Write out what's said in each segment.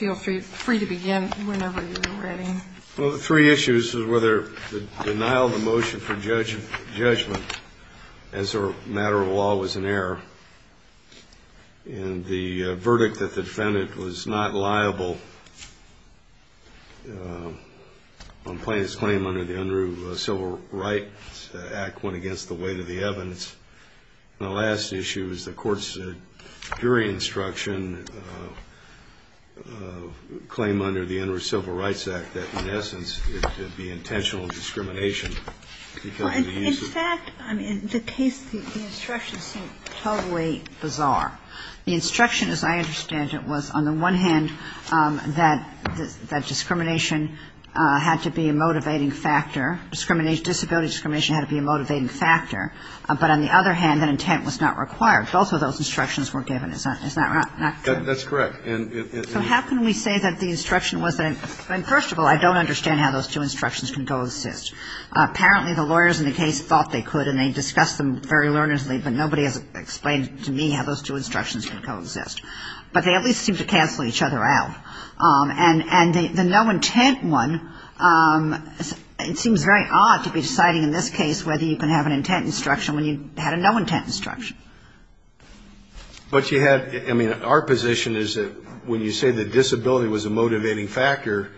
Well, the three issues is whether the denial of the motion for judgment as a matter of law was an error, and the verdict that the defendant was not liable on plaintiff's claim under the Unruh Civil Rights Act went against the weight of the evidence. And the last issue is the court's jury instruction claim under the Unruh Civil Rights Act that, in essence, it would be intentional discrimination. Well, in fact, I mean, the case, the instructions seem totally bizarre. The instruction, as I understand it, was, on the one hand, that discrimination had to be a motivating factor. Disability discrimination had to be a motivating factor. But on the other hand, that intent was not required. Both of those instructions were given. Isn't that right? That's correct. So how can we say that the instruction wasn't? First of all, I don't understand how those two instructions can coexist. Apparently, the lawyers in the case thought they could, and they discussed them very earnestly, but nobody has explained to me how those two instructions can coexist. But they at least seem to cancel each other out. And the no intent one, it seems very odd to be deciding in this case whether you can have an intent instruction when you had a no intent instruction. But you had ‑‑ I mean, our position is that when you say the disability was a motivating factor,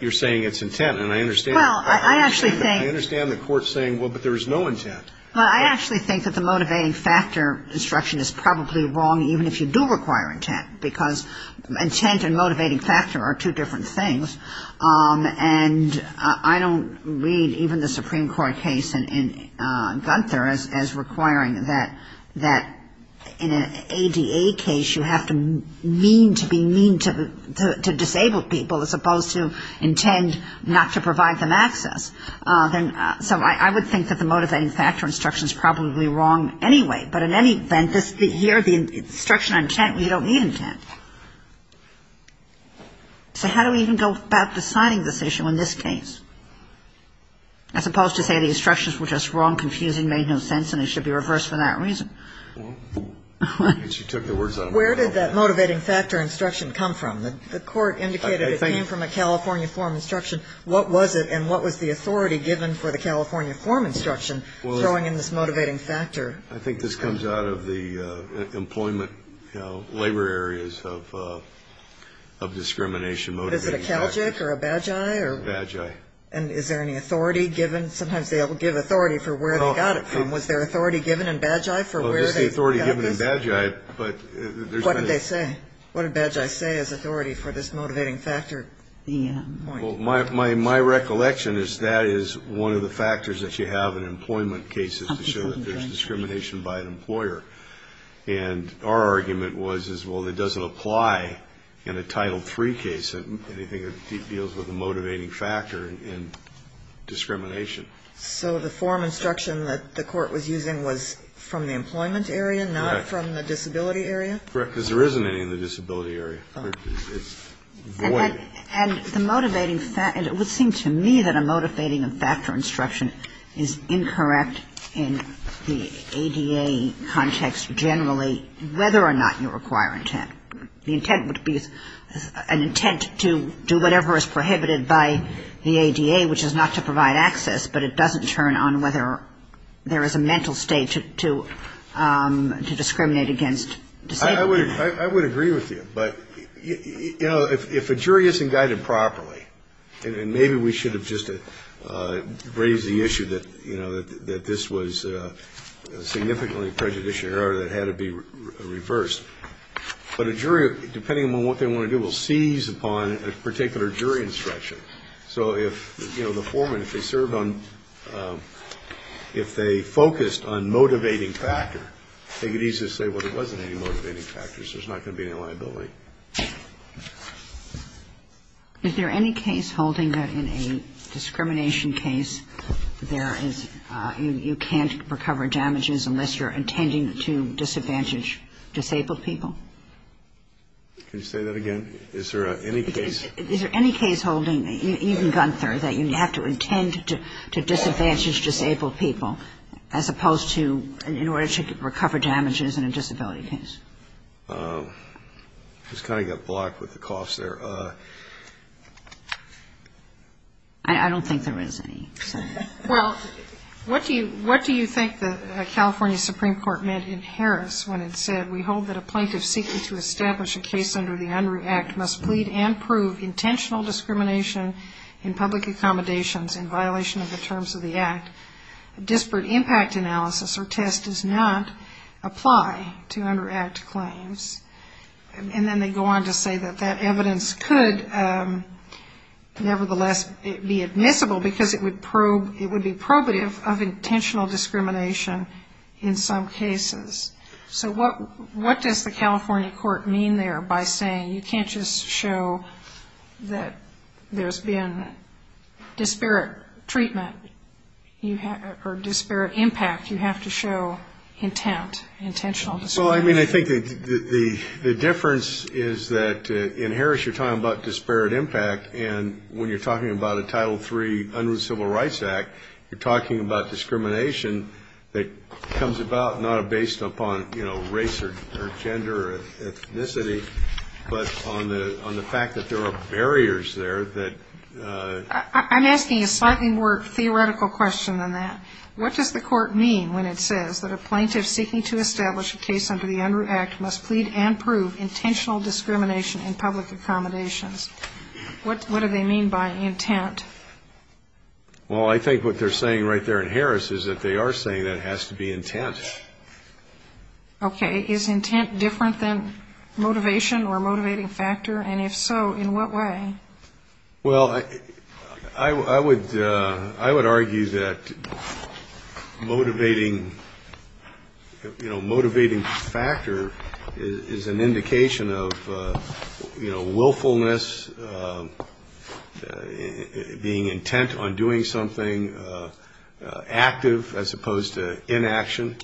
you're saying it's intent. And I understand ‑‑ Well, I actually think ‑‑ I understand the court saying, well, but there was no intent. Well, I actually think that the motivating factor instruction is probably wrong, even if you do require intent, because intent and motivating factor are two different things. And I don't read even the Supreme Court case in Gunther as requiring that in an ADA case, you have to mean to be mean to disabled people as opposed to intend not to provide them access. So I would think that the motivating factor instruction is probably wrong anyway. But in any event, here, the instruction on intent, you don't need intent. So how do we even go about deciding this issue in this case, as opposed to say the instructions were just wrong, confusing, made no sense, and it should be reversed for that reason? Well, she took the words out of my mouth. Where did that motivating factor instruction come from? The court indicated it came from a California form instruction. What was it, and what was the authority given for the California form instruction, throwing in this motivating factor? I think this comes out of the employment, labor areas of discrimination. Is it a CALGIC or a Bagi? Bagi. And is there any authority given? Sometimes they'll give authority for where they got it from. Was there authority given in Bagi for where they got this? Well, there's the authority given in Bagi, but there's no ‑‑ What did they say? What did Bagi say as authority for this motivating factor point? Well, my recollection is that is one of the factors that you have in employment cases to show that there's discrimination by an employer. And our argument was, well, it doesn't apply in a Title III case, anything that deals with a motivating factor in discrimination. So the form instruction that the court was using was from the employment area, not from the disability area? Correct, because there isn't any in the disability area. And the motivating ‑‑ it would seem to me that a motivating factor instruction is incorrect in the ADA context generally, whether or not you require intent. The intent would be an intent to do whatever is prohibited by the ADA, which is not to provide access, but it doesn't turn on whether there is a mental state to discriminate against disabled people. I would agree with you. But, you know, if a jury isn't guided properly, and maybe we should have just raised the issue that, you know, that this was significantly prejudicial or that it had to be reversed, but a jury, depending on what they want to do, will seize upon a particular jury instruction. So if, you know, the foreman, if they serve on ‑‑ if they focused on motivating factor, I think it's easy to say, well, there wasn't any motivating factor, so there's not going to be any liability. Is there any case holding that in a discrimination case there is ‑‑ you can't recover damages unless you're intending to disadvantage disabled people? Can you say that again? Is there any case? Is there any case holding, even Gunther, that you have to intend to disadvantage disabled people, as opposed to in order to recover damages in a disability case? I just kind of got blocked with the coughs there. I don't think there is any. Well, what do you ‑‑ what do you think the California Supreme Court meant in Harris when it said, we hold that a plaintiff seeking to establish a case under the Unruh Act must plead and prove intentional discrimination in public accommodations in violation of the terms of the Act, and a disparate impact analysis or test does not apply to Unruh Act claims, and then they go on to say that that evidence could nevertheless be admissible because it would probe ‑‑ it would be probative of intentional discrimination in some cases. So what does the California court mean there by saying you can't just show that there's been disparate treatment, or disparate impact, you have to show intent, intentional discrimination? Well, I mean, I think the difference is that in Harris you're talking about disparate impact, and when you're talking about a Title III Unruh Civil Rights Act, you're talking about discrimination that comes about not based upon, you know, race or gender or ethnicity, but on the fact that there are barriers there that ‑‑ I'm asking a slightly more theoretical question than that. What does the court mean when it says that a plaintiff seeking to establish a case under the Unruh Act must plead and prove intentional discrimination in public accommodations? What do they mean by intent? Well, I think what they're saying right there in Harris is that they are saying that it has to be intent. Okay. Is intent different than motivation or a motivating factor, and if so, in what way? Well, I would argue that motivating, you know, motivating factor is an indication of, you know, willfulness, being intent on doing something, active as opposed to inaction.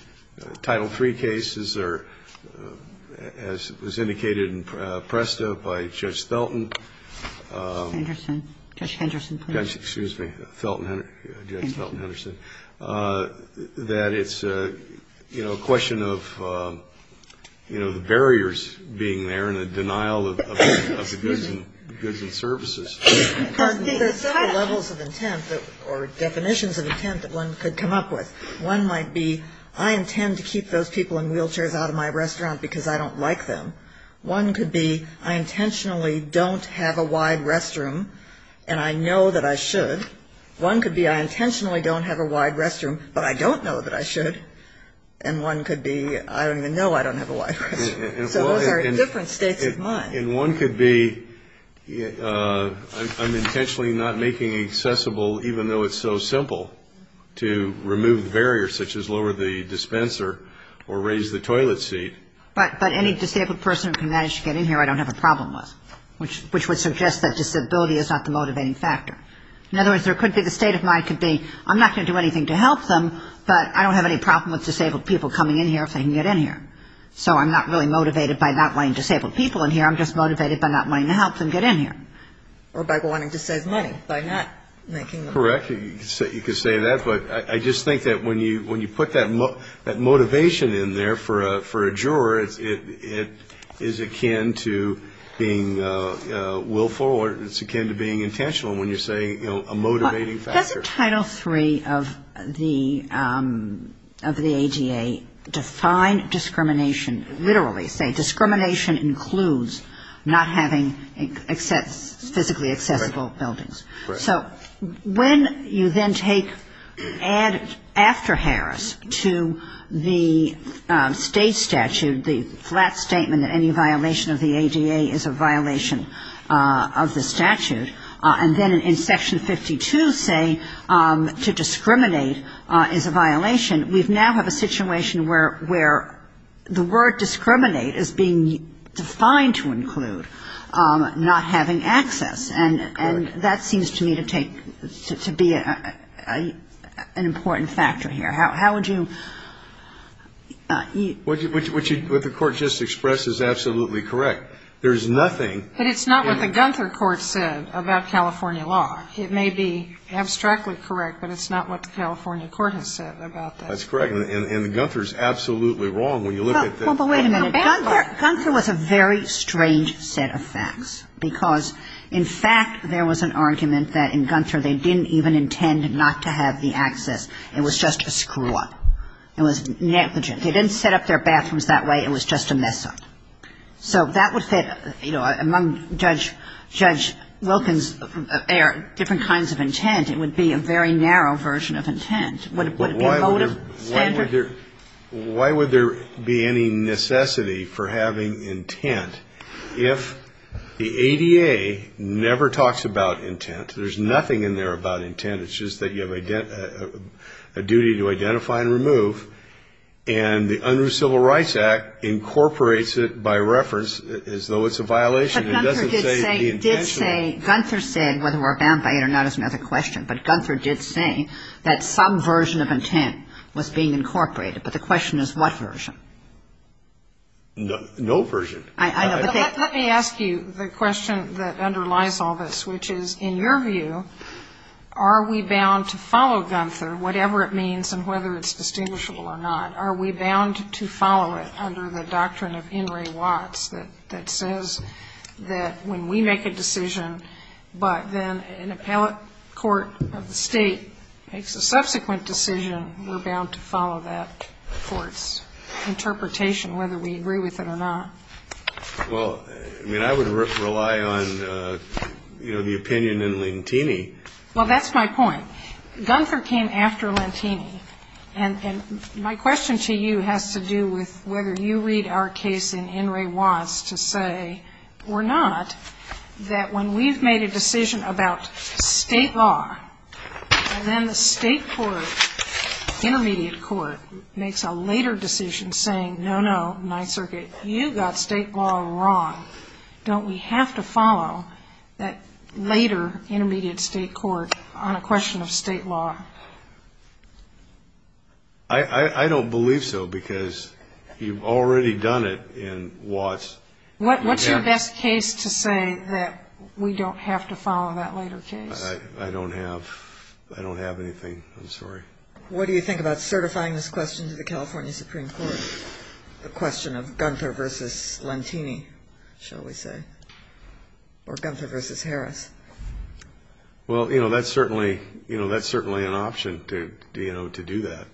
Title III cases are, as was indicated in PRESTA by Judge Felton. Henderson. Judge Henderson, please. Excuse me. Felton, Judge Felton Henderson. That it's, you know, a question of, you know, the barriers being there and the denial of the goods and services. There are several levels of intent or definitions of intent that one could come up with. One might be I intend to keep those people in wheelchairs out of my restaurant because I don't like them. One could be I intentionally don't have a wide restroom and I know that I should. One could be I intentionally don't have a wide restroom but I don't know that I should. And one could be I don't even know I don't have a wide restroom. So those are different states of mind. And one could be I'm intentionally not making it accessible, even though it's so simple, to remove barriers such as lower the dispenser or raise the toilet seat. But any disabled person who can manage to get in here I don't have a problem with, which would suggest that disability is not the motivating factor. In other words, there could be the state of mind could be I'm not going to do anything to help them, but I don't have any problem with disabled people coming in here if they can get in here. So I'm not really motivated by not wanting disabled people in here. I'm just motivated by not wanting to help them get in here. Or by wanting to save money by not making them. Correct. You could say that. But I just think that when you put that motivation in there for a juror, it is akin to being willful or it's akin to being intentional when you're saying, you know, a motivating factor. Doesn't Title III of the ADA define discrimination? Literally say discrimination includes not having physically accessible buildings. So when you then take after Harris to the state statute, the flat statement that any violation of the ADA is a violation of the statute, and then in Section 52 say to discriminate is a violation, we now have a situation where the word discriminate is being defined to include not having access. Correct. And that seems to me to take to be an important factor here. How would you? What the Court just expressed is absolutely correct. There is nothing. But it's not what the Gunther Court said about California law. It may be abstractly correct, but it's not what the California court has said about that. That's correct. And Gunther's absolutely wrong when you look at the. Well, but wait a minute. Gunther was a very strange set of facts. Because, in fact, there was an argument that in Gunther they didn't even intend not to have the access. It was just a screw-up. It was negligent. They didn't set up their bathrooms that way. It was just a mess-up. So that would fit, you know, among Judge Wilkins' different kinds of intent, it would be a very narrow version of intent. Would it be a motive standard? Why would there be any necessity for having intent if the ADA never talks about intent? There's nothing in there about intent. It's just that you have a duty to identify and remove. And the Unruh Civil Rights Act incorporates it by reference as though it's a violation. It doesn't say the intention. But Gunther did say, Gunther said whether we're bound by it or not is another question. But Gunther did say that some version of intent was being incorporated. But the question is what version. No version. Let me ask you the question that underlies all this, which is, in your view, are we bound to follow Gunther, whatever it means and whether it's distinguishable or not? Are we bound to follow it under the doctrine of In re Watts that says that when we make a decision, but then an appellate court of the state makes a subsequent decision, we're bound to follow that court's interpretation, whether we agree with it or not? Well, I mean, I would rely on, you know, the opinion in Lantini. Well, that's my point. Gunther came after Lantini. And my question to you has to do with whether you read our case in In re Watts to say, or not, that when we've made a decision about state law, and then the state court, intermediate court, makes a later decision saying, no, no, Ninth Circuit, you got state law wrong, don't we have to follow that later intermediate state court on a question of state law? I don't believe so, because you've already done it in Watts. What's your best case to say that we don't have to follow that later case? I don't have anything. I'm sorry. What do you think about certifying this question to the California Supreme Court, the question of Gunther versus Lantini, shall we say, or Gunther versus Harris? Well, you know, that's certainly an option to do that.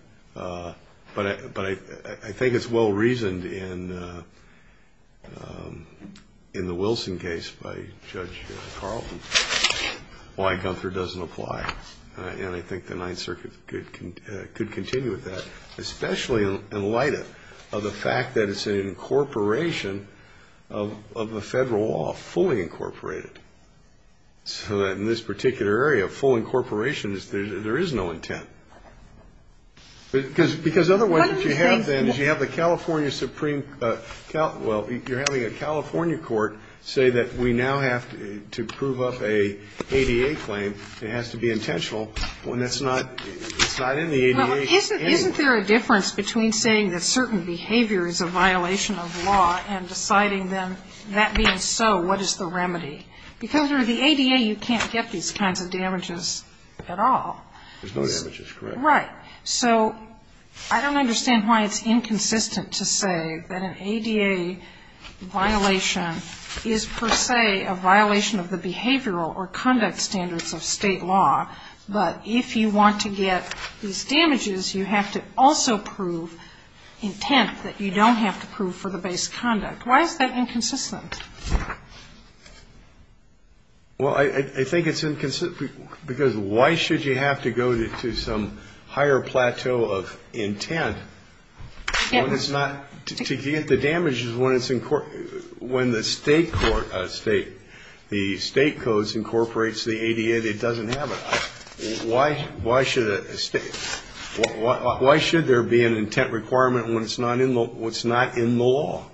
But I think it's well-reasoned in the Wilson case by Judge Carlton. Why Gunther doesn't apply. And I think the Ninth Circuit could continue with that, especially in light of the fact that it's an incorporation of the federal law, fully incorporated. So that in this particular area, full incorporation, there is no intent. Because otherwise what you have then is you have the California Supreme – Well, you're having a California court say that we now have to prove up an ADA claim. It has to be intentional when it's not in the ADA anyway. Isn't there a difference between saying that certain behavior is a violation of law and deciding then that being so, what is the remedy? Because under the ADA, you can't get these kinds of damages at all. There's no damages, correct. Right. So I don't understand why it's inconsistent to say that an ADA violation is per se a violation of the behavioral or conduct standards of state law. But if you want to get these damages, you have to also prove intent that you don't have to prove for the base conduct. Why is that inconsistent? Well, I think it's inconsistent because why should you have to go to some higher plateau of intent when it's not – to get the damages when it's – when the state court – the state codes incorporates the ADA that doesn't have it? Why should a state – why should there be an intent requirement when it's not in the law?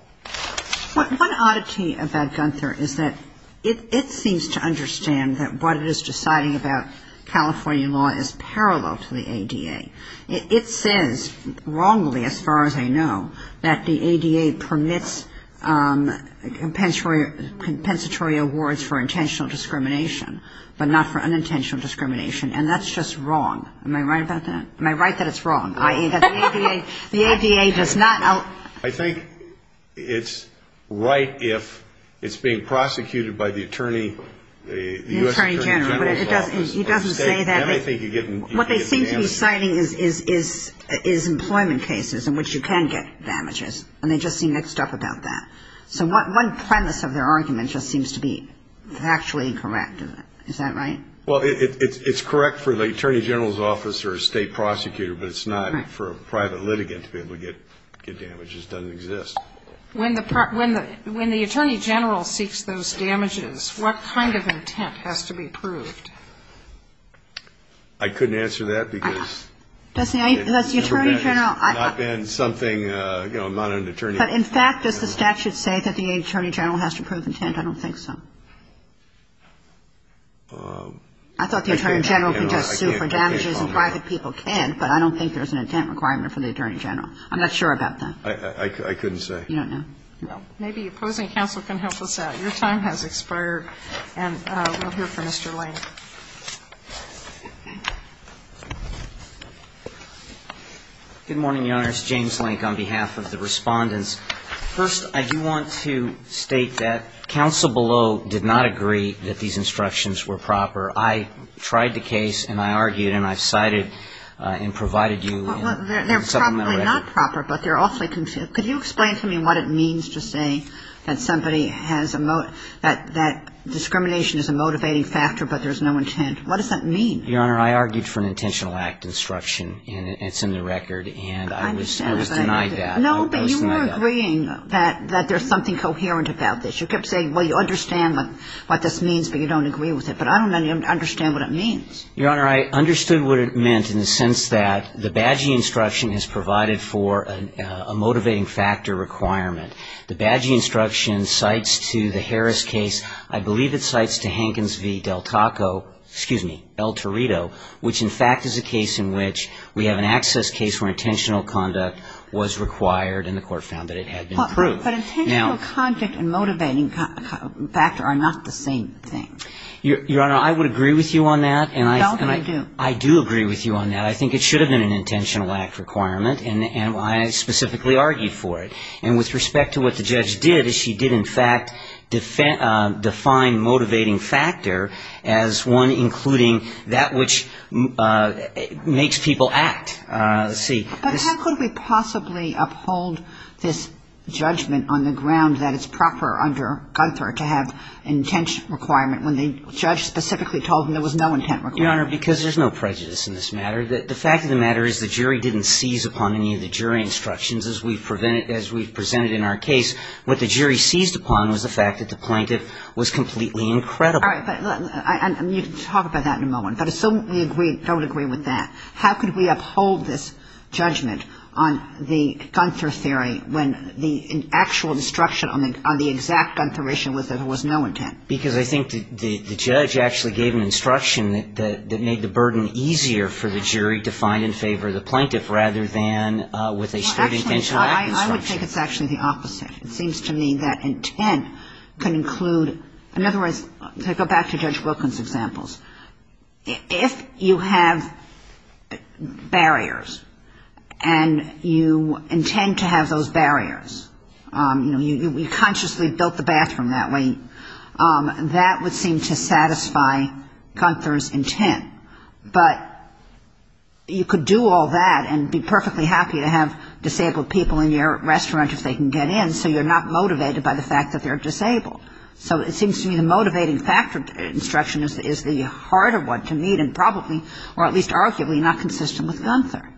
But one oddity about Gunther is that it seems to understand that what it is deciding about California law is parallel to the ADA. It says wrongly, as far as I know, that the ADA permits compensatory – compensatory awards for intentional discrimination, but not for unintentional discrimination. And that's just wrong. Am I right about that? Am I right that it's wrong, i.e., that the ADA does not – I think it's right if it's being prosecuted by the attorney – the U.S. Attorney General's office. The Attorney General. But it doesn't – he doesn't say that. Then I think you get – you can get the damages. What they seem to be citing is – is employment cases in which you can get damages, and they just seem mixed up about that. So one premise of their argument just seems to be factually incorrect. Is that right? Well, it's correct for the Attorney General's office or a state prosecutor, but it's not for a private litigant to be able to get damages. It doesn't exist. When the – when the Attorney General seeks those damages, what kind of intent has to be proved? I couldn't answer that because – Does the Attorney General – It's not been something – you know, I'm not an attorney. But, in fact, does the statute say that the Attorney General has to prove intent? I don't think so. I thought the Attorney General could just sue for damages and private people can, but I don't think there's an intent requirement for the Attorney General. I'm not sure about that. I couldn't say. You don't know? No. Maybe opposing counsel can help us out. Your time has expired, and we'll hear from Mr. Lank. Good morning, Your Honors. James Lank on behalf of the Respondents. First, I do want to state that counsel below did not agree that these instructions were proper. I tried the case, and I argued, and I've cited and provided you a supplemental record. They're probably not proper, but they're awfully confusing. Could you explain to me what it means to say that somebody has a – that discrimination is a motivating factor, but there's no intent? What does that mean? Your Honor, I argued for an intentional act instruction, and it's in the record, and I was denied that. I understand. No, but you were agreeing that there's something coherent about this. You kept saying, well, you understand what this means, but you don't agree with it. But I don't understand what it means. Your Honor, I understood what it meant in the sense that the Bagi instruction has provided for a motivating factor requirement. The Bagi instruction cites to the Harris case, I believe it cites to Hankins v. Del Taco – excuse me, El Torito, which, in fact, is a case in which we have an access case where intentional conduct was required, and the Court found that it had been proved. But intentional conduct and motivating factor are not the same thing. Your Honor, I would agree with you on that, and I do agree with you on that. I think it should have been an intentional act requirement, and I specifically argued for it. And with respect to what the judge did, she did, in fact, define motivating factor as one including that which makes people act. Let's see. But how could we possibly uphold this judgment on the ground that it's proper under Gunther to have intent requirement when the judge specifically told him there was no intent requirement? Your Honor, because there's no prejudice in this matter. The fact of the matter is the jury didn't seize upon any of the jury instructions as we've presented in our case. What the jury seized upon was the fact that the plaintiff was completely incredible. All right. You can talk about that in a moment. But assume we don't agree with that. How could we uphold this judgment on the Gunther theory when the actual instruction on the exact Gunther issue was that there was no intent? Because I think the judge actually gave an instruction that made the burden easier for the jury to find in favor of the plaintiff rather than with a state intentional act instruction. Actually, I would think it's actually the opposite. It seems to me that intent can include — in other words, to go back to Judge Wilkins' examples, if you have barriers and you intend to have those barriers, you know, you consciously built the bathroom that way, that would seem to satisfy Gunther's intent. But you could do all that and be perfectly happy to have disabled people in your restaurant if they can get in, so you're not motivated by the fact that they're disabled. So it seems to me the motivating factor instruction is the harder one to meet and probably or at least arguably not consistent with Gunther.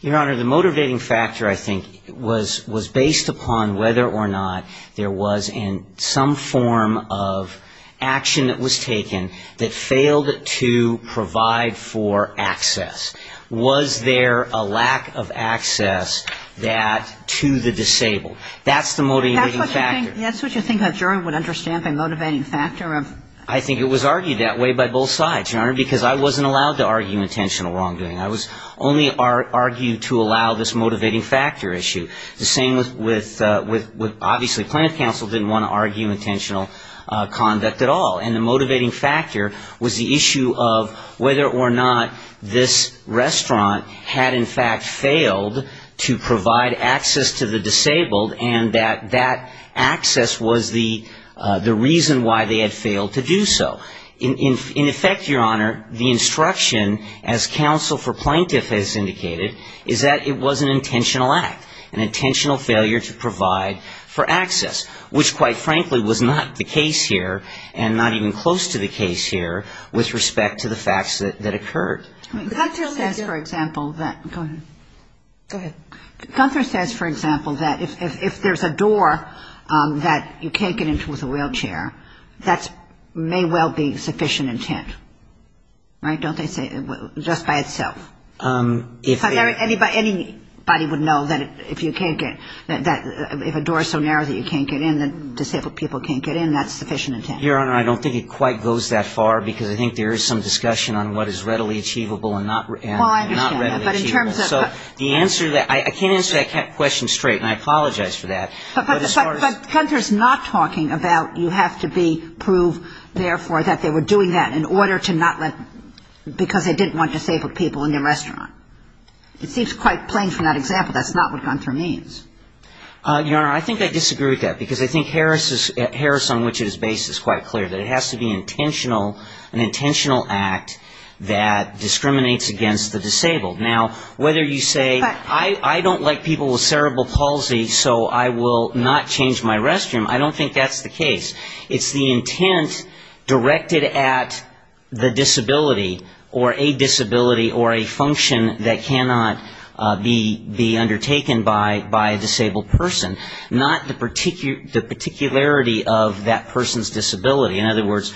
Your Honor, the motivating factor, I think, was based upon whether or not there was some form of action that was taken that failed to provide for access. Was there a lack of access that — to the disabled? That's the motivating factor. That's what you think the jury would understand the motivating factor of? I think it was argued that way by both sides, Your Honor, because I wasn't allowed to argue intentional wrongdoing. I was only argued to allow this motivating factor issue. The same with — obviously Plaintiff Counsel didn't want to argue intentional conduct at all. And the motivating factor was the issue of whether or not this restaurant had in fact failed to provide access to the disabled and that that access was the reason why they had failed to do so. In effect, Your Honor, the instruction as Counsel for Plaintiff has indicated is that it was an intentional act, an intentional failure to provide for access, which quite frankly was not the case here and not even close to the case here with respect to the facts that occurred. Gunther says, for example, that — go ahead. Go ahead. Gunther says, for example, that if there's a door that you can't get into with a narrow being sufficient intent. Right? Don't they say — just by itself? Anybody would know that if you can't get — if a door is so narrow that you can't get in, that disabled people can't get in, that's sufficient intent. Your Honor, I don't think it quite goes that far because I think there is some discussion on what is readily achievable and not readily achievable. Well, I understand that. But in terms of — So the answer — I can't answer that question straight, and I apologize for that. But as far as — Your Honor, I think I disagree with that because I think Harris' — Harris on which it is based is quite clear, that it has to be intentional, an intentional act that discriminates against the disabled. Now, whether you say, I don't like people with cerebral palsy, so I will not change I don't think that's the right thing to do. It's the intent directed at the disability or a disability or a function that cannot be undertaken by a disabled person, not the particularity of that person's disability. In other words,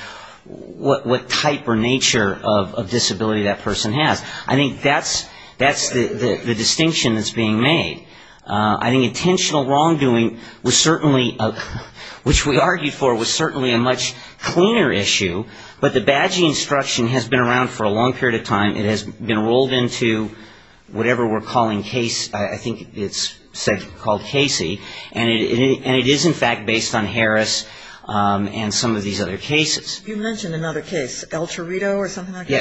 what type or nature of disability that person has. I think that's the distinction that's being made. I think intentional wrongdoing was certainly a — which we argued for was certainly a much cleaner issue. But the badge instruction has been around for a long period of time. It has been rolled into whatever we're calling case — I think it's called Casey. And it is, in fact, based on Harris and some of these other cases. You mentioned another case, El Torito or something like that?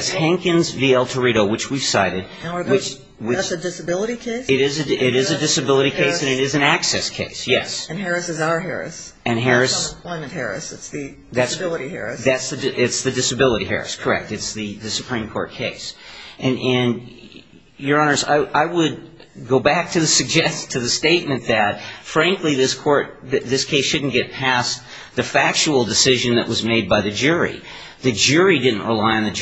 That's a disability case? It is a disability case and it is an access case, yes. And Harris is our Harris. And Harris — It's the disability Harris. It's the disability Harris, correct. It's the Supreme Court case. And, Your Honors, I would go back to the statement that, frankly, this case shouldn't get past the factual decision that was made by the jury. The jury didn't rely on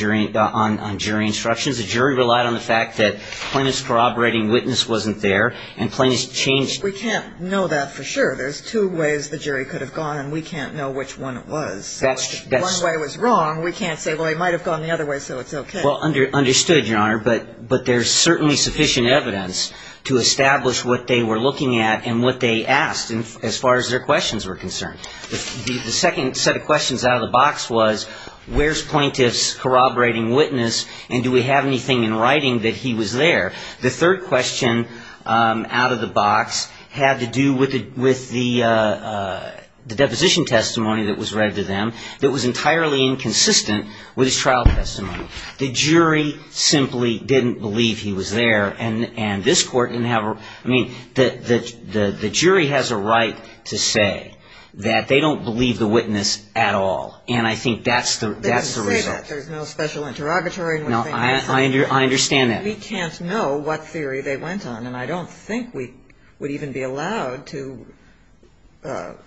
jury instructions. The jury relied on the fact that plaintiff's corroborating witness wasn't there and plaintiff's changed — We can't know that for sure. There's two ways the jury could have gone and we can't know which one it was. That's — If one way was wrong, we can't say, well, he might have gone the other way, so it's okay. Well, understood, Your Honor. But there's certainly sufficient evidence to establish what they were looking at and what they asked as far as their questions were concerned. The second set of questions out of the box was, where's plaintiff's corroborating witness and do we have anything in writing that he was there? The third question out of the box had to do with the deposition testimony that was read to them that was entirely inconsistent with his trial testimony. The jury simply didn't believe he was there. And this Court didn't have — I mean, the jury has a right to say that they don't believe the witness at all. And I think that's the result. There's no special interrogatory. No, I understand that. We can't know what theory they went on. And I don't think we would even be allowed to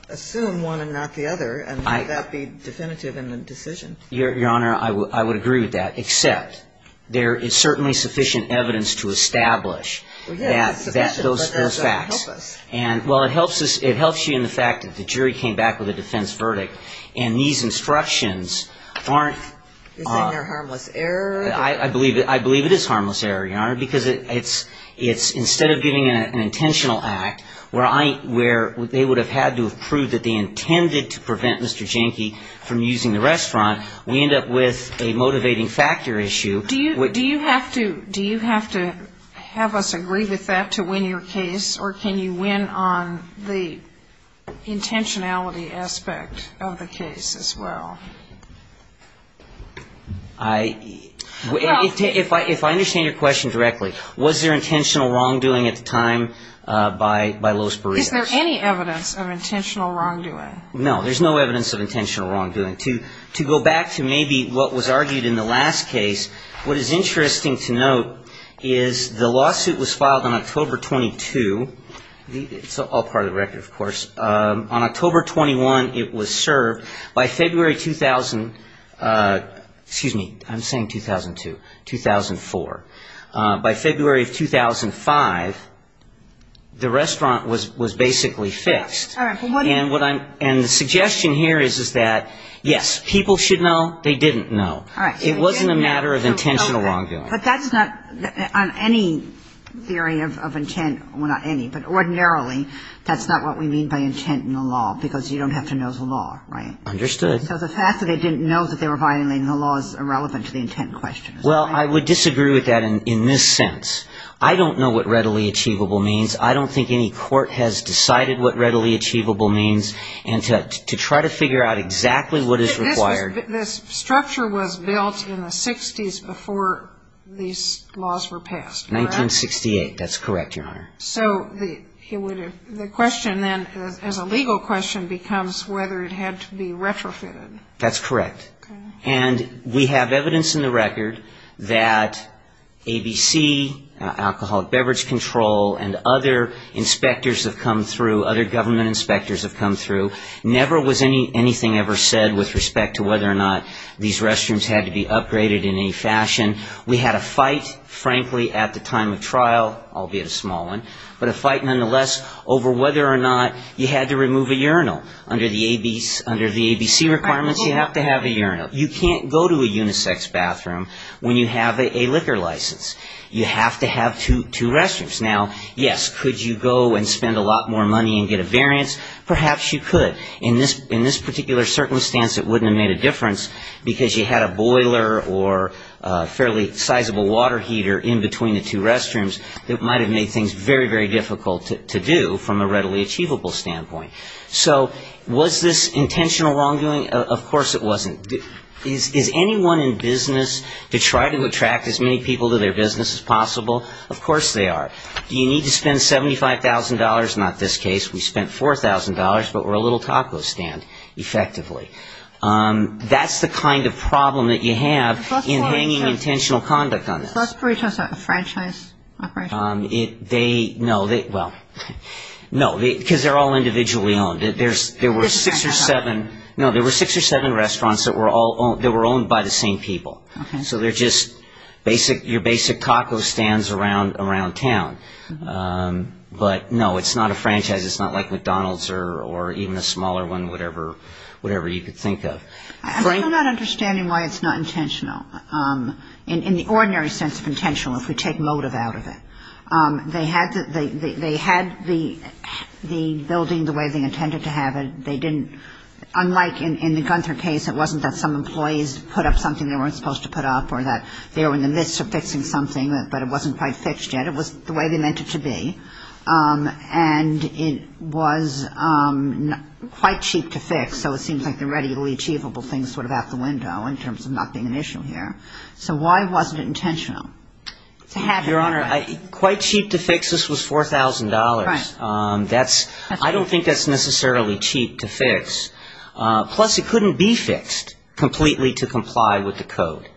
assume one and not the other. And may that be definitive in the decision. Your Honor, I would agree with that, except there is certainly sufficient evidence to establish that — Well, yes, sufficient, but that doesn't help us. Well, it helps us — it helps you in the fact that the jury came back with a defense verdict and these instructions aren't — Isn't there harmless error? I believe it is harmless error, Your Honor, because it's — instead of getting an intentional act where I — where they would have had to have proved that they intended to prevent Mr. Jenke from using the restaurant, we end up with a motivating factor issue. Do you have to — do you have to have us agree with that to win your case or can you win on the intentionality aspect of the case as well? I — if I understand your question directly, was there intentional wrongdoing at the time by Los Barrios? Is there any evidence of intentional wrongdoing? No, there's no evidence of intentional wrongdoing. To go back to maybe what was argued in the last case, what is interesting to note is the lawsuit was filed on October 22. It's all part of the record, of course. On October 21, it was served. By February 2000 — excuse me, I'm saying 2002, 2004. By February of 2005, the restaurant was basically fixed. And what I'm — and the suggestion here is that, yes, people should know, they didn't know. It wasn't a matter of intentional wrongdoing. But that's not — on any theory of intent, well, not any, but ordinarily, that's not what we mean by intent in the law because you don't have to know the law, right? Understood. So the fact that they didn't know that they were violating the law is irrelevant to the intent question. Well, I would disagree with that in this sense. I don't know what readily achievable means. I don't think any court has decided what readily achievable means. And to try to figure out exactly what is required — But this structure was built in the 60s before these laws were passed, correct? 1968. That's correct, Your Honor. So the question then, as a legal question, becomes whether it had to be retrofitted. That's correct. Okay. And we have evidence in the record that ABC, Alcoholic Beverage Control, and other inspectors have come through, other government inspectors have come through. Never was anything ever said with respect to whether or not these restrooms had to be upgraded in any fashion. We had a fight, frankly, at the time of trial, albeit a small one, but a fight nonetheless over whether or not you had to remove a urinal. Under the ABC requirements, you have to have a urinal. You can't go to a unisex bathroom when you have a liquor license. You have to have two restrooms. Now, yes, could you go and spend a lot more money and get a variance? Perhaps you could. In this particular circumstance, it wouldn't have made a difference, because you had a boiler or a fairly sizable water heater in between the two restrooms that might have made things very, very difficult to do from a readily achievable standpoint. So was this intentional wrongdoing? Of course it wasn't. Is anyone in business to try to attract as many people to their business as possible? Of course they are. Do you need to spend $75,000? Not this case. We spent $4,000, but we're a little taco stand, effectively. That's the kind of problem that you have in hanging intentional conduct on this. Was Busbury Trust a franchise operation? No. Well, no, because they're all individually owned. There were six or seven restaurants that were owned by the same people. So they're just your basic taco stands around town. But, no, it's not a franchise. It's not like McDonald's or even a smaller one, whatever you could think of. I'm still not understanding why it's not intentional, in the ordinary sense of intentional, if we take motive out of it. They had the building the way they intended to have it. They didn't, unlike in the Gunther case, it wasn't that some employees put up something they weren't supposed to put up or that they were in the midst of fixing something, but it wasn't quite fixed yet. It was the way they meant it to be. And it was quite cheap to fix, so it seems like the readily achievable thing is sort of out the window in terms of not being an issue here. So why wasn't it intentional? Your Honor, quite cheap to fix, this was $4,000. I don't think that's necessarily cheap to fix. Plus, it couldn't be fixed completely to comply with the code.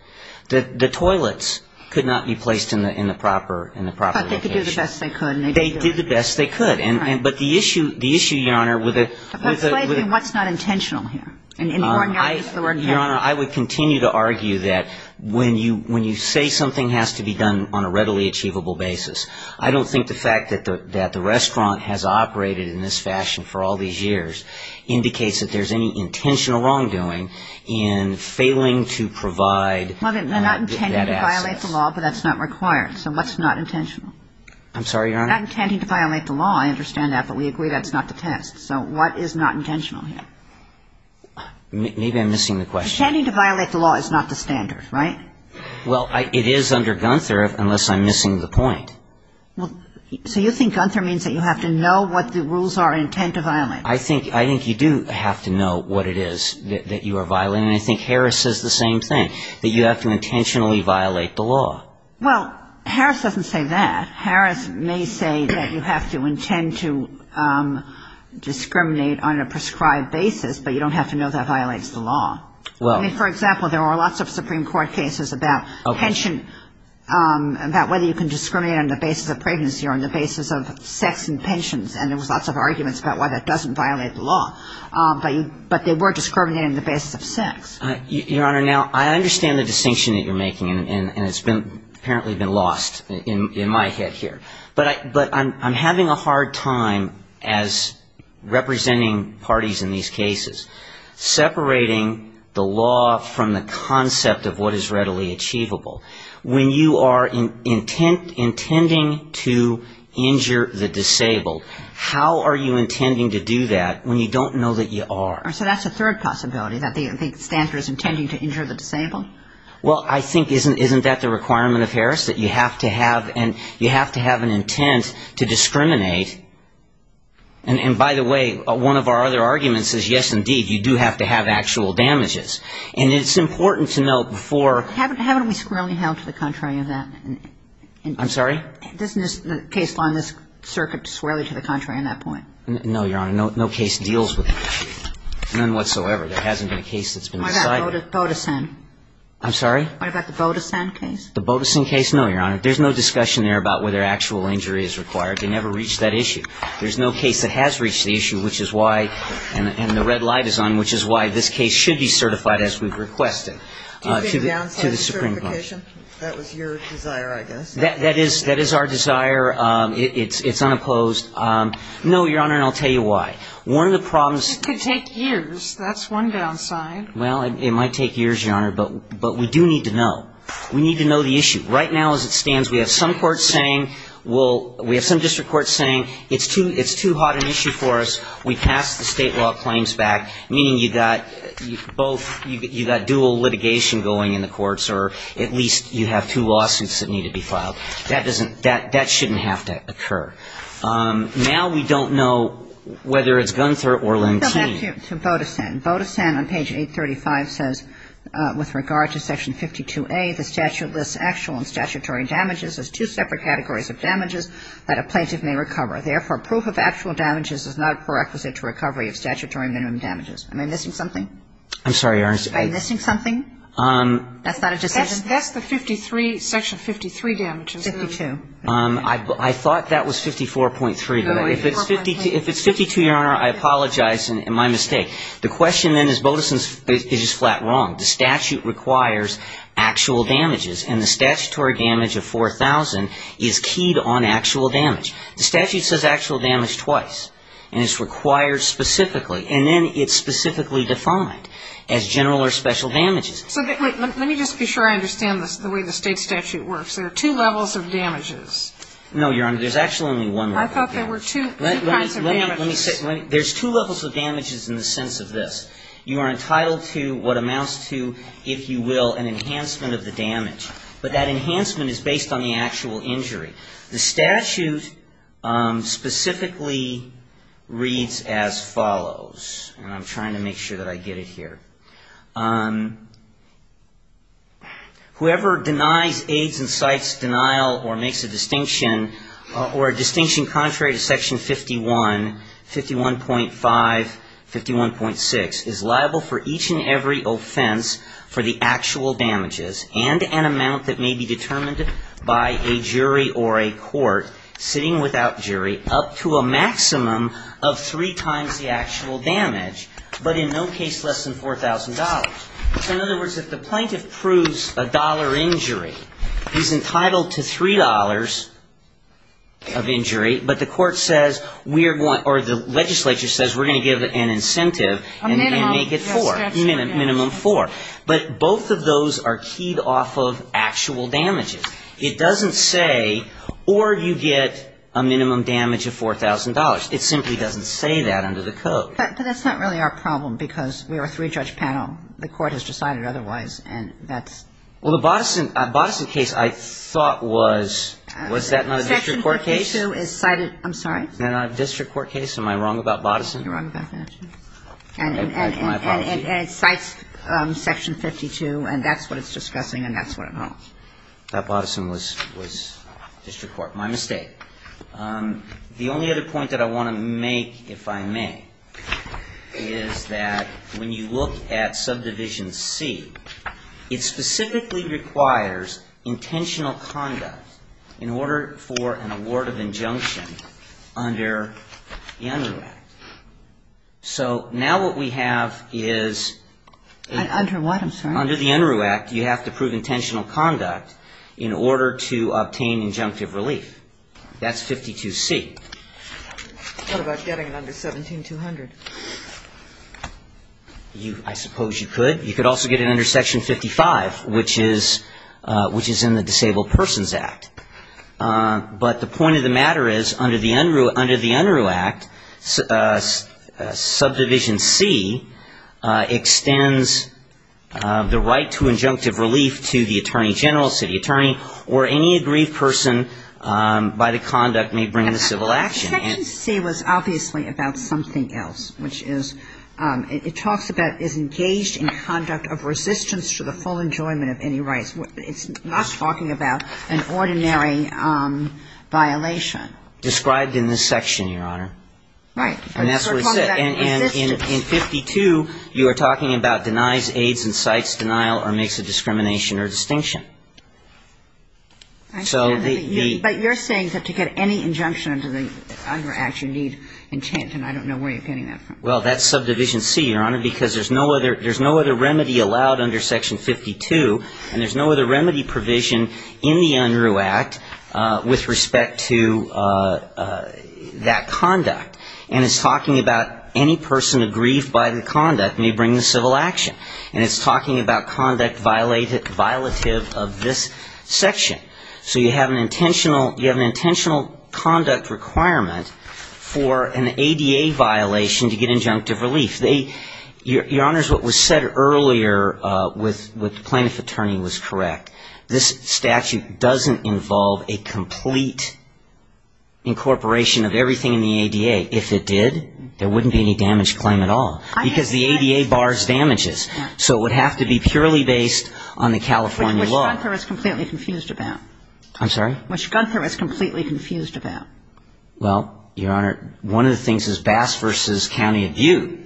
The toilets could not be placed in the proper location. But they could do the best they could. They did the best they could. But the issue, Your Honor, with the ---- Explain to me what's not intentional here. In the ordinary sense of the word, yes. Your Honor, I would continue to argue that when you say something has to be done on a readily achievable basis, I don't think the fact that the restaurant has operated in this fashion for all these years indicates that there's any intentional wrongdoing in failing to provide that access. Well, they're not intending to violate the law, but that's not required. So what's not intentional? I'm sorry, Your Honor? Not intending to violate the law. I understand that, but we agree that's not the test. So what is not intentional here? Maybe I'm missing the question. Intending to violate the law is not the standard, right? Well, it is under Gunther, unless I'm missing the point. So you think Gunther means that you have to know what the rules are intent to violate? I think you do have to know what it is that you are violating, and I think Harris says the same thing, that you have to intentionally violate the law. Well, Harris doesn't say that. Harris may say that you have to intend to discriminate on a prescribed basis, but you don't have to know that violates the law. I mean, for example, there are lots of Supreme Court cases about pension, about whether you can discriminate on the basis of pregnancy or on the basis of sex and pensions, and there was lots of arguments about why that doesn't violate the law. But they were discriminating on the basis of sex. Your Honor, now, I understand the distinction that you're making, and it's apparently been lost in my head here. But I'm having a hard time, as representing parties in these cases, separating the law from the concept of what is readily achievable. When you are intending to injure the disabled, how are you intending to do that when you don't know that you are? So that's a third possibility, that the offender is intending to injure the disabled? Well, I think isn't that the requirement of Harris, that you have to have an intent to discriminate? And by the way, one of our other arguments is, yes, indeed, you do have to have actual damages. And it's important to note before ---- Haven't we squarely held to the contrary of that? I'm sorry? Isn't the case on this circuit squarely to the contrary on that point? No, Your Honor. No case deals with that issue. None whatsoever. There hasn't been a case that's been decided. What about Bodesen? I'm sorry? What about the Bodesen case? The Bodesen case? No, Your Honor. There's no discussion there about whether actual injury is required. They never reached that issue. There's no case that has reached the issue, which is why, and the red light is on, which is why this case should be certified as we've requested to the Supreme Court. Do you think the downside is certification? That was your desire, I guess. That is our desire. It's unopposed. No, Your Honor, and I'll tell you why. One of the problems ---- It could take years. That's one downside. Well, it might take years, Your Honor, but we do need to know. We need to know the issue. Right now as it stands, we have some courts saying we'll ---- we have some district courts saying it's too hot an issue for us. We passed the State law claims back, meaning you got both ---- you got dual litigation going in the courts, or at least you have two lawsuits that need to be filed. That doesn't ---- that shouldn't have to occur. Now we don't know whether it's Gunther or Lentini. Go back to Bodesen. Bodesen on page 835 says, With regard to section 52A, the statute lists actual and statutory damages as two separate categories of damages that a plaintiff may recover. Therefore, proof of actual damages is not a prerequisite to recovery of statutory minimum damages. Am I missing something? I'm sorry, Your Honor. Are you missing something? That's not a decision? That's the 53 ---- section 53 damages. 52. I thought that was 54.3. No, it was 54.3. If it's 52, Your Honor, I apologize, and my mistake. The question then is Bodesen is just flat wrong. The statute requires actual damages, and the statutory damage of 4,000 is keyed on actual damage. The statute says actual damage twice, and it's required specifically, and then it's specifically defined as general or special damages. So let me just be sure I understand the way the State statute works. There are two levels of damages. No, Your Honor. There's actually only one level of damage. I thought there were two kinds of damages. Let me say ---- there's two levels of damages in the sense of this. You are entitled to what amounts to, if you will, an enhancement of the damage. But that enhancement is based on the actual injury. The statute specifically reads as follows, and I'm trying to make sure that I get it here. Whoever denies, aids, and cites denial or makes a distinction, or a distinction contrary to section 51, 51.5, 51.6, is liable for each and every offense for the actual damages and an amount that may be determined by a jury or a court sitting without jury up to a maximum of three times the actual damage, but in no case less than $4,000. So in other words, if the plaintiff proves a dollar injury, he's entitled to $3 of injury, but the court says we are going to ---- or the legislature says we're going to give an incentive and make it 4, minimum 4. But both of those are keyed off of actual damages. It doesn't say, or you get a minimum damage of $4,000. It simply doesn't say that under the code. But that's not really our problem, because we are a three-judge panel. The court has decided otherwise, and that's ---- Well, the Boddison case I thought was ---- Was that not a district court case? Section 52 is cited ---- I'm sorry? Is that not a district court case? Am I wrong about Boddison? You're wrong about Boddison. My apologies. And it cites Section 52, and that's what it's discussing, and that's what it holds. That Boddison was district court. My mistake. The only other point that I want to make, if I may, is that when you look at Subdivision C, it specifically requires intentional conduct in order for an award of injunction under the UNRU Act. So now what we have is ---- Under what? I'm sorry. Under the UNRU Act, you have to prove intentional conduct in order to obtain injunctive relief. That's 52C. What about getting it under 17200? I suppose you could. You could also get it under Section 55, which is in the Disabled Persons Act. But the point of the matter is, under the UNRU Act, Subdivision C extends the right to injunctive relief to the attorney general, city attorney, or any aggrieved person by the conduct may bring in the civil action. Section C was obviously about something else, which is it talks about is engaged in conduct of resistance to the full enjoyment of any rights. It's not talking about an ordinary violation. Described in this section, Your Honor. Right. And that's what it said. And in 52, you are talking about denies, aids, incites, denial, or makes a discrimination or distinction. So the ---- But you're saying that to get any injunction under the UNRU Act, you need intent, and I don't know where you're getting that from. Well, that's Subdivision C, Your Honor, because there's no other remedy allowed under Section 52, and there's no other remedy provision in the UNRU Act with respect to that conduct. And it's talking about any person aggrieved by the conduct may bring the civil action. And it's talking about conduct violative of this section. Okay. So you have an intentional conduct requirement for an ADA violation to get injunctive relief. Your Honor, what was said earlier with the plaintiff attorney was correct. This statute doesn't involve a complete incorporation of everything in the ADA. If it did, there wouldn't be any damage claim at all, because the ADA bars damages. So it would have to be purely based on the California law. Which Gunther is completely confused about. I'm sorry? Which Gunther is completely confused about. Well, Your Honor, one of the things is Bass v. County Abuse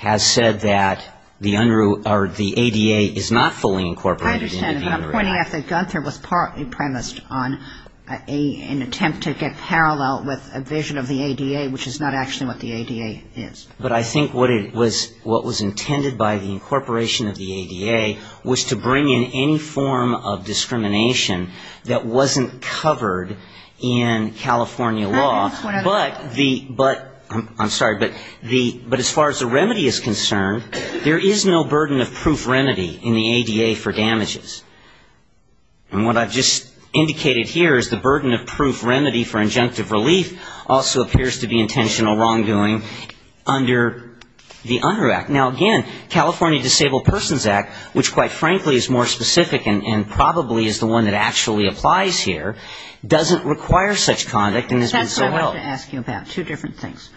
has said that the UNRU or the ADA is not fully incorporated in the UNRU Act. I understand, but I'm pointing out that Gunther was partly premised on an attempt to get parallel with a vision of the ADA, which is not actually what the ADA is. But I think what it was, what was intended by the incorporation of the ADA was to bring in any form of discrimination that wasn't covered in California law. But the, but, I'm sorry, but the, but as far as the remedy is concerned, there is no burden of proof remedy in the ADA for damages. And what I've just indicated here is the burden of proof remedy for injunctive relief also appears to be intentional wrongdoing under the UNRU Act. Now, again, California Disabled Persons Act, which quite frankly is more specific and probably is the one that actually applies here, doesn't require such conduct and has been so held. That's what I wanted to ask you about, two different things.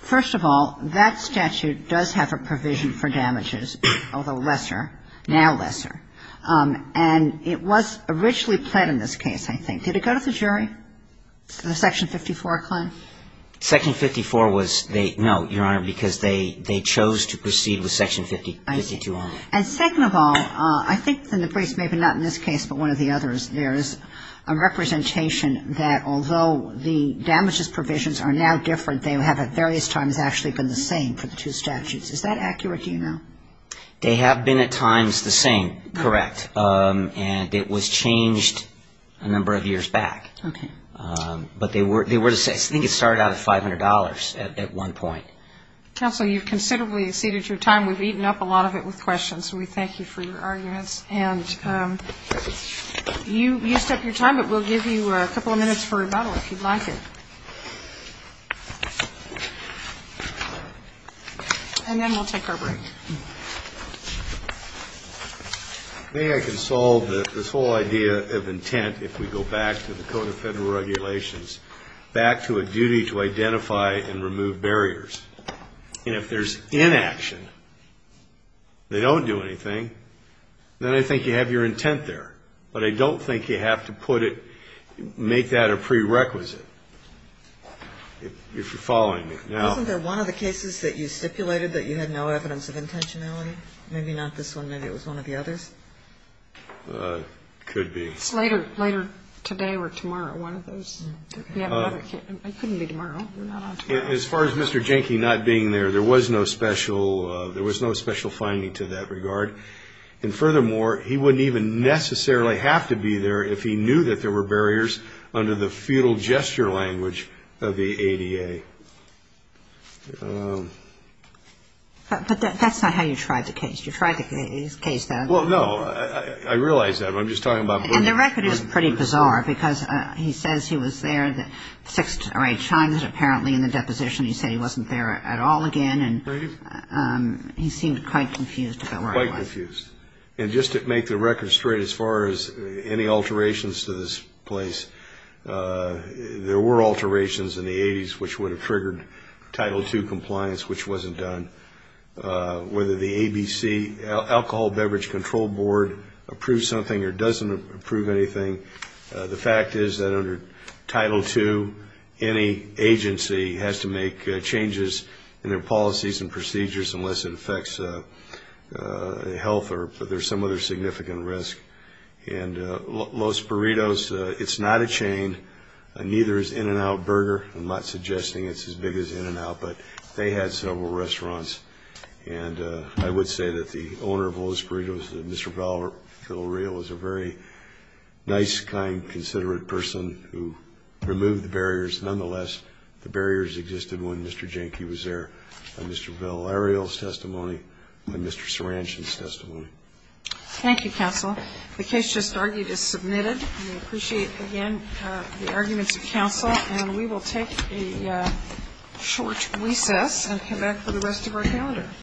First of all, that statute does have a provision for damages, although lesser, now lesser. Did it go to the jury, the Section 54 claim? Section 54 was, no, Your Honor, because they chose to proceed with Section 52 only. And second of all, I think in the briefs, maybe not in this case, but one of the others, there is a representation that although the damages provisions are now different, they have at various times actually been the same for the two statutes. Is that accurate? Do you know? They have been at times the same, correct. And it was changed a number of years back. Okay. But I think it started out at $500 at one point. Counsel, you've considerably exceeded your time. We've eaten up a lot of it with questions, so we thank you for your arguments. And you used up your time, but we'll give you a couple of minutes for rebuttal if you'd like it. And then we'll take our break. I think we can solve this whole idea of intent if we go back to the Code of Federal Regulations, back to a duty to identify and remove barriers. And if there's inaction, they don't do anything, then I think you have your intent there. But I don't think you have to put it, make that a prerequisite, if you're following me. Isn't there one of the cases that you stipulated that you had no evidence of intentionality? Maybe not this one. Maybe it was one of the others. Could be. Later today or tomorrow, one of those. It couldn't be tomorrow. We're not on tomorrow. As far as Mr. Jenke not being there, there was no special finding to that regard. And furthermore, he wouldn't even necessarily have to be there if he knew that there were barriers under the feudal gesture language of the ADA. But that's not how you tried the case. You tried the case that other way. Well, no. I realize that. I'm just talking about. And the record is pretty bizarre because he says he was there six or eight times apparently in the deposition. He said he wasn't there at all again. And he seemed quite confused about where he was. Quite confused. And just to make the record straight, as far as any alterations to this place, there were alterations in the 80s which would have triggered Title II compliance, which wasn't done. Whether the ABC, Alcohol Beverage Control Board, approved something or doesn't approve anything, the fact is that under Title II, any agency has to make changes in their policies and procedures unless it affects health or some other significant risk. And Los Burritos, it's not a chain. Neither is In-N-Out Burger. I'm not suggesting it's as big as In-N-Out, but they had several restaurants. And I would say that the owner of Los Burritos, Mr. Val Villarreal, is a very nice, kind, considerate person who removed the barriers. Nonetheless, the barriers existed when Mr. Jenke was there, Thank you, counsel. The case just argued is submitted. We appreciate, again, the arguments of counsel. And we will take a short recess and come back for the rest of our calendar.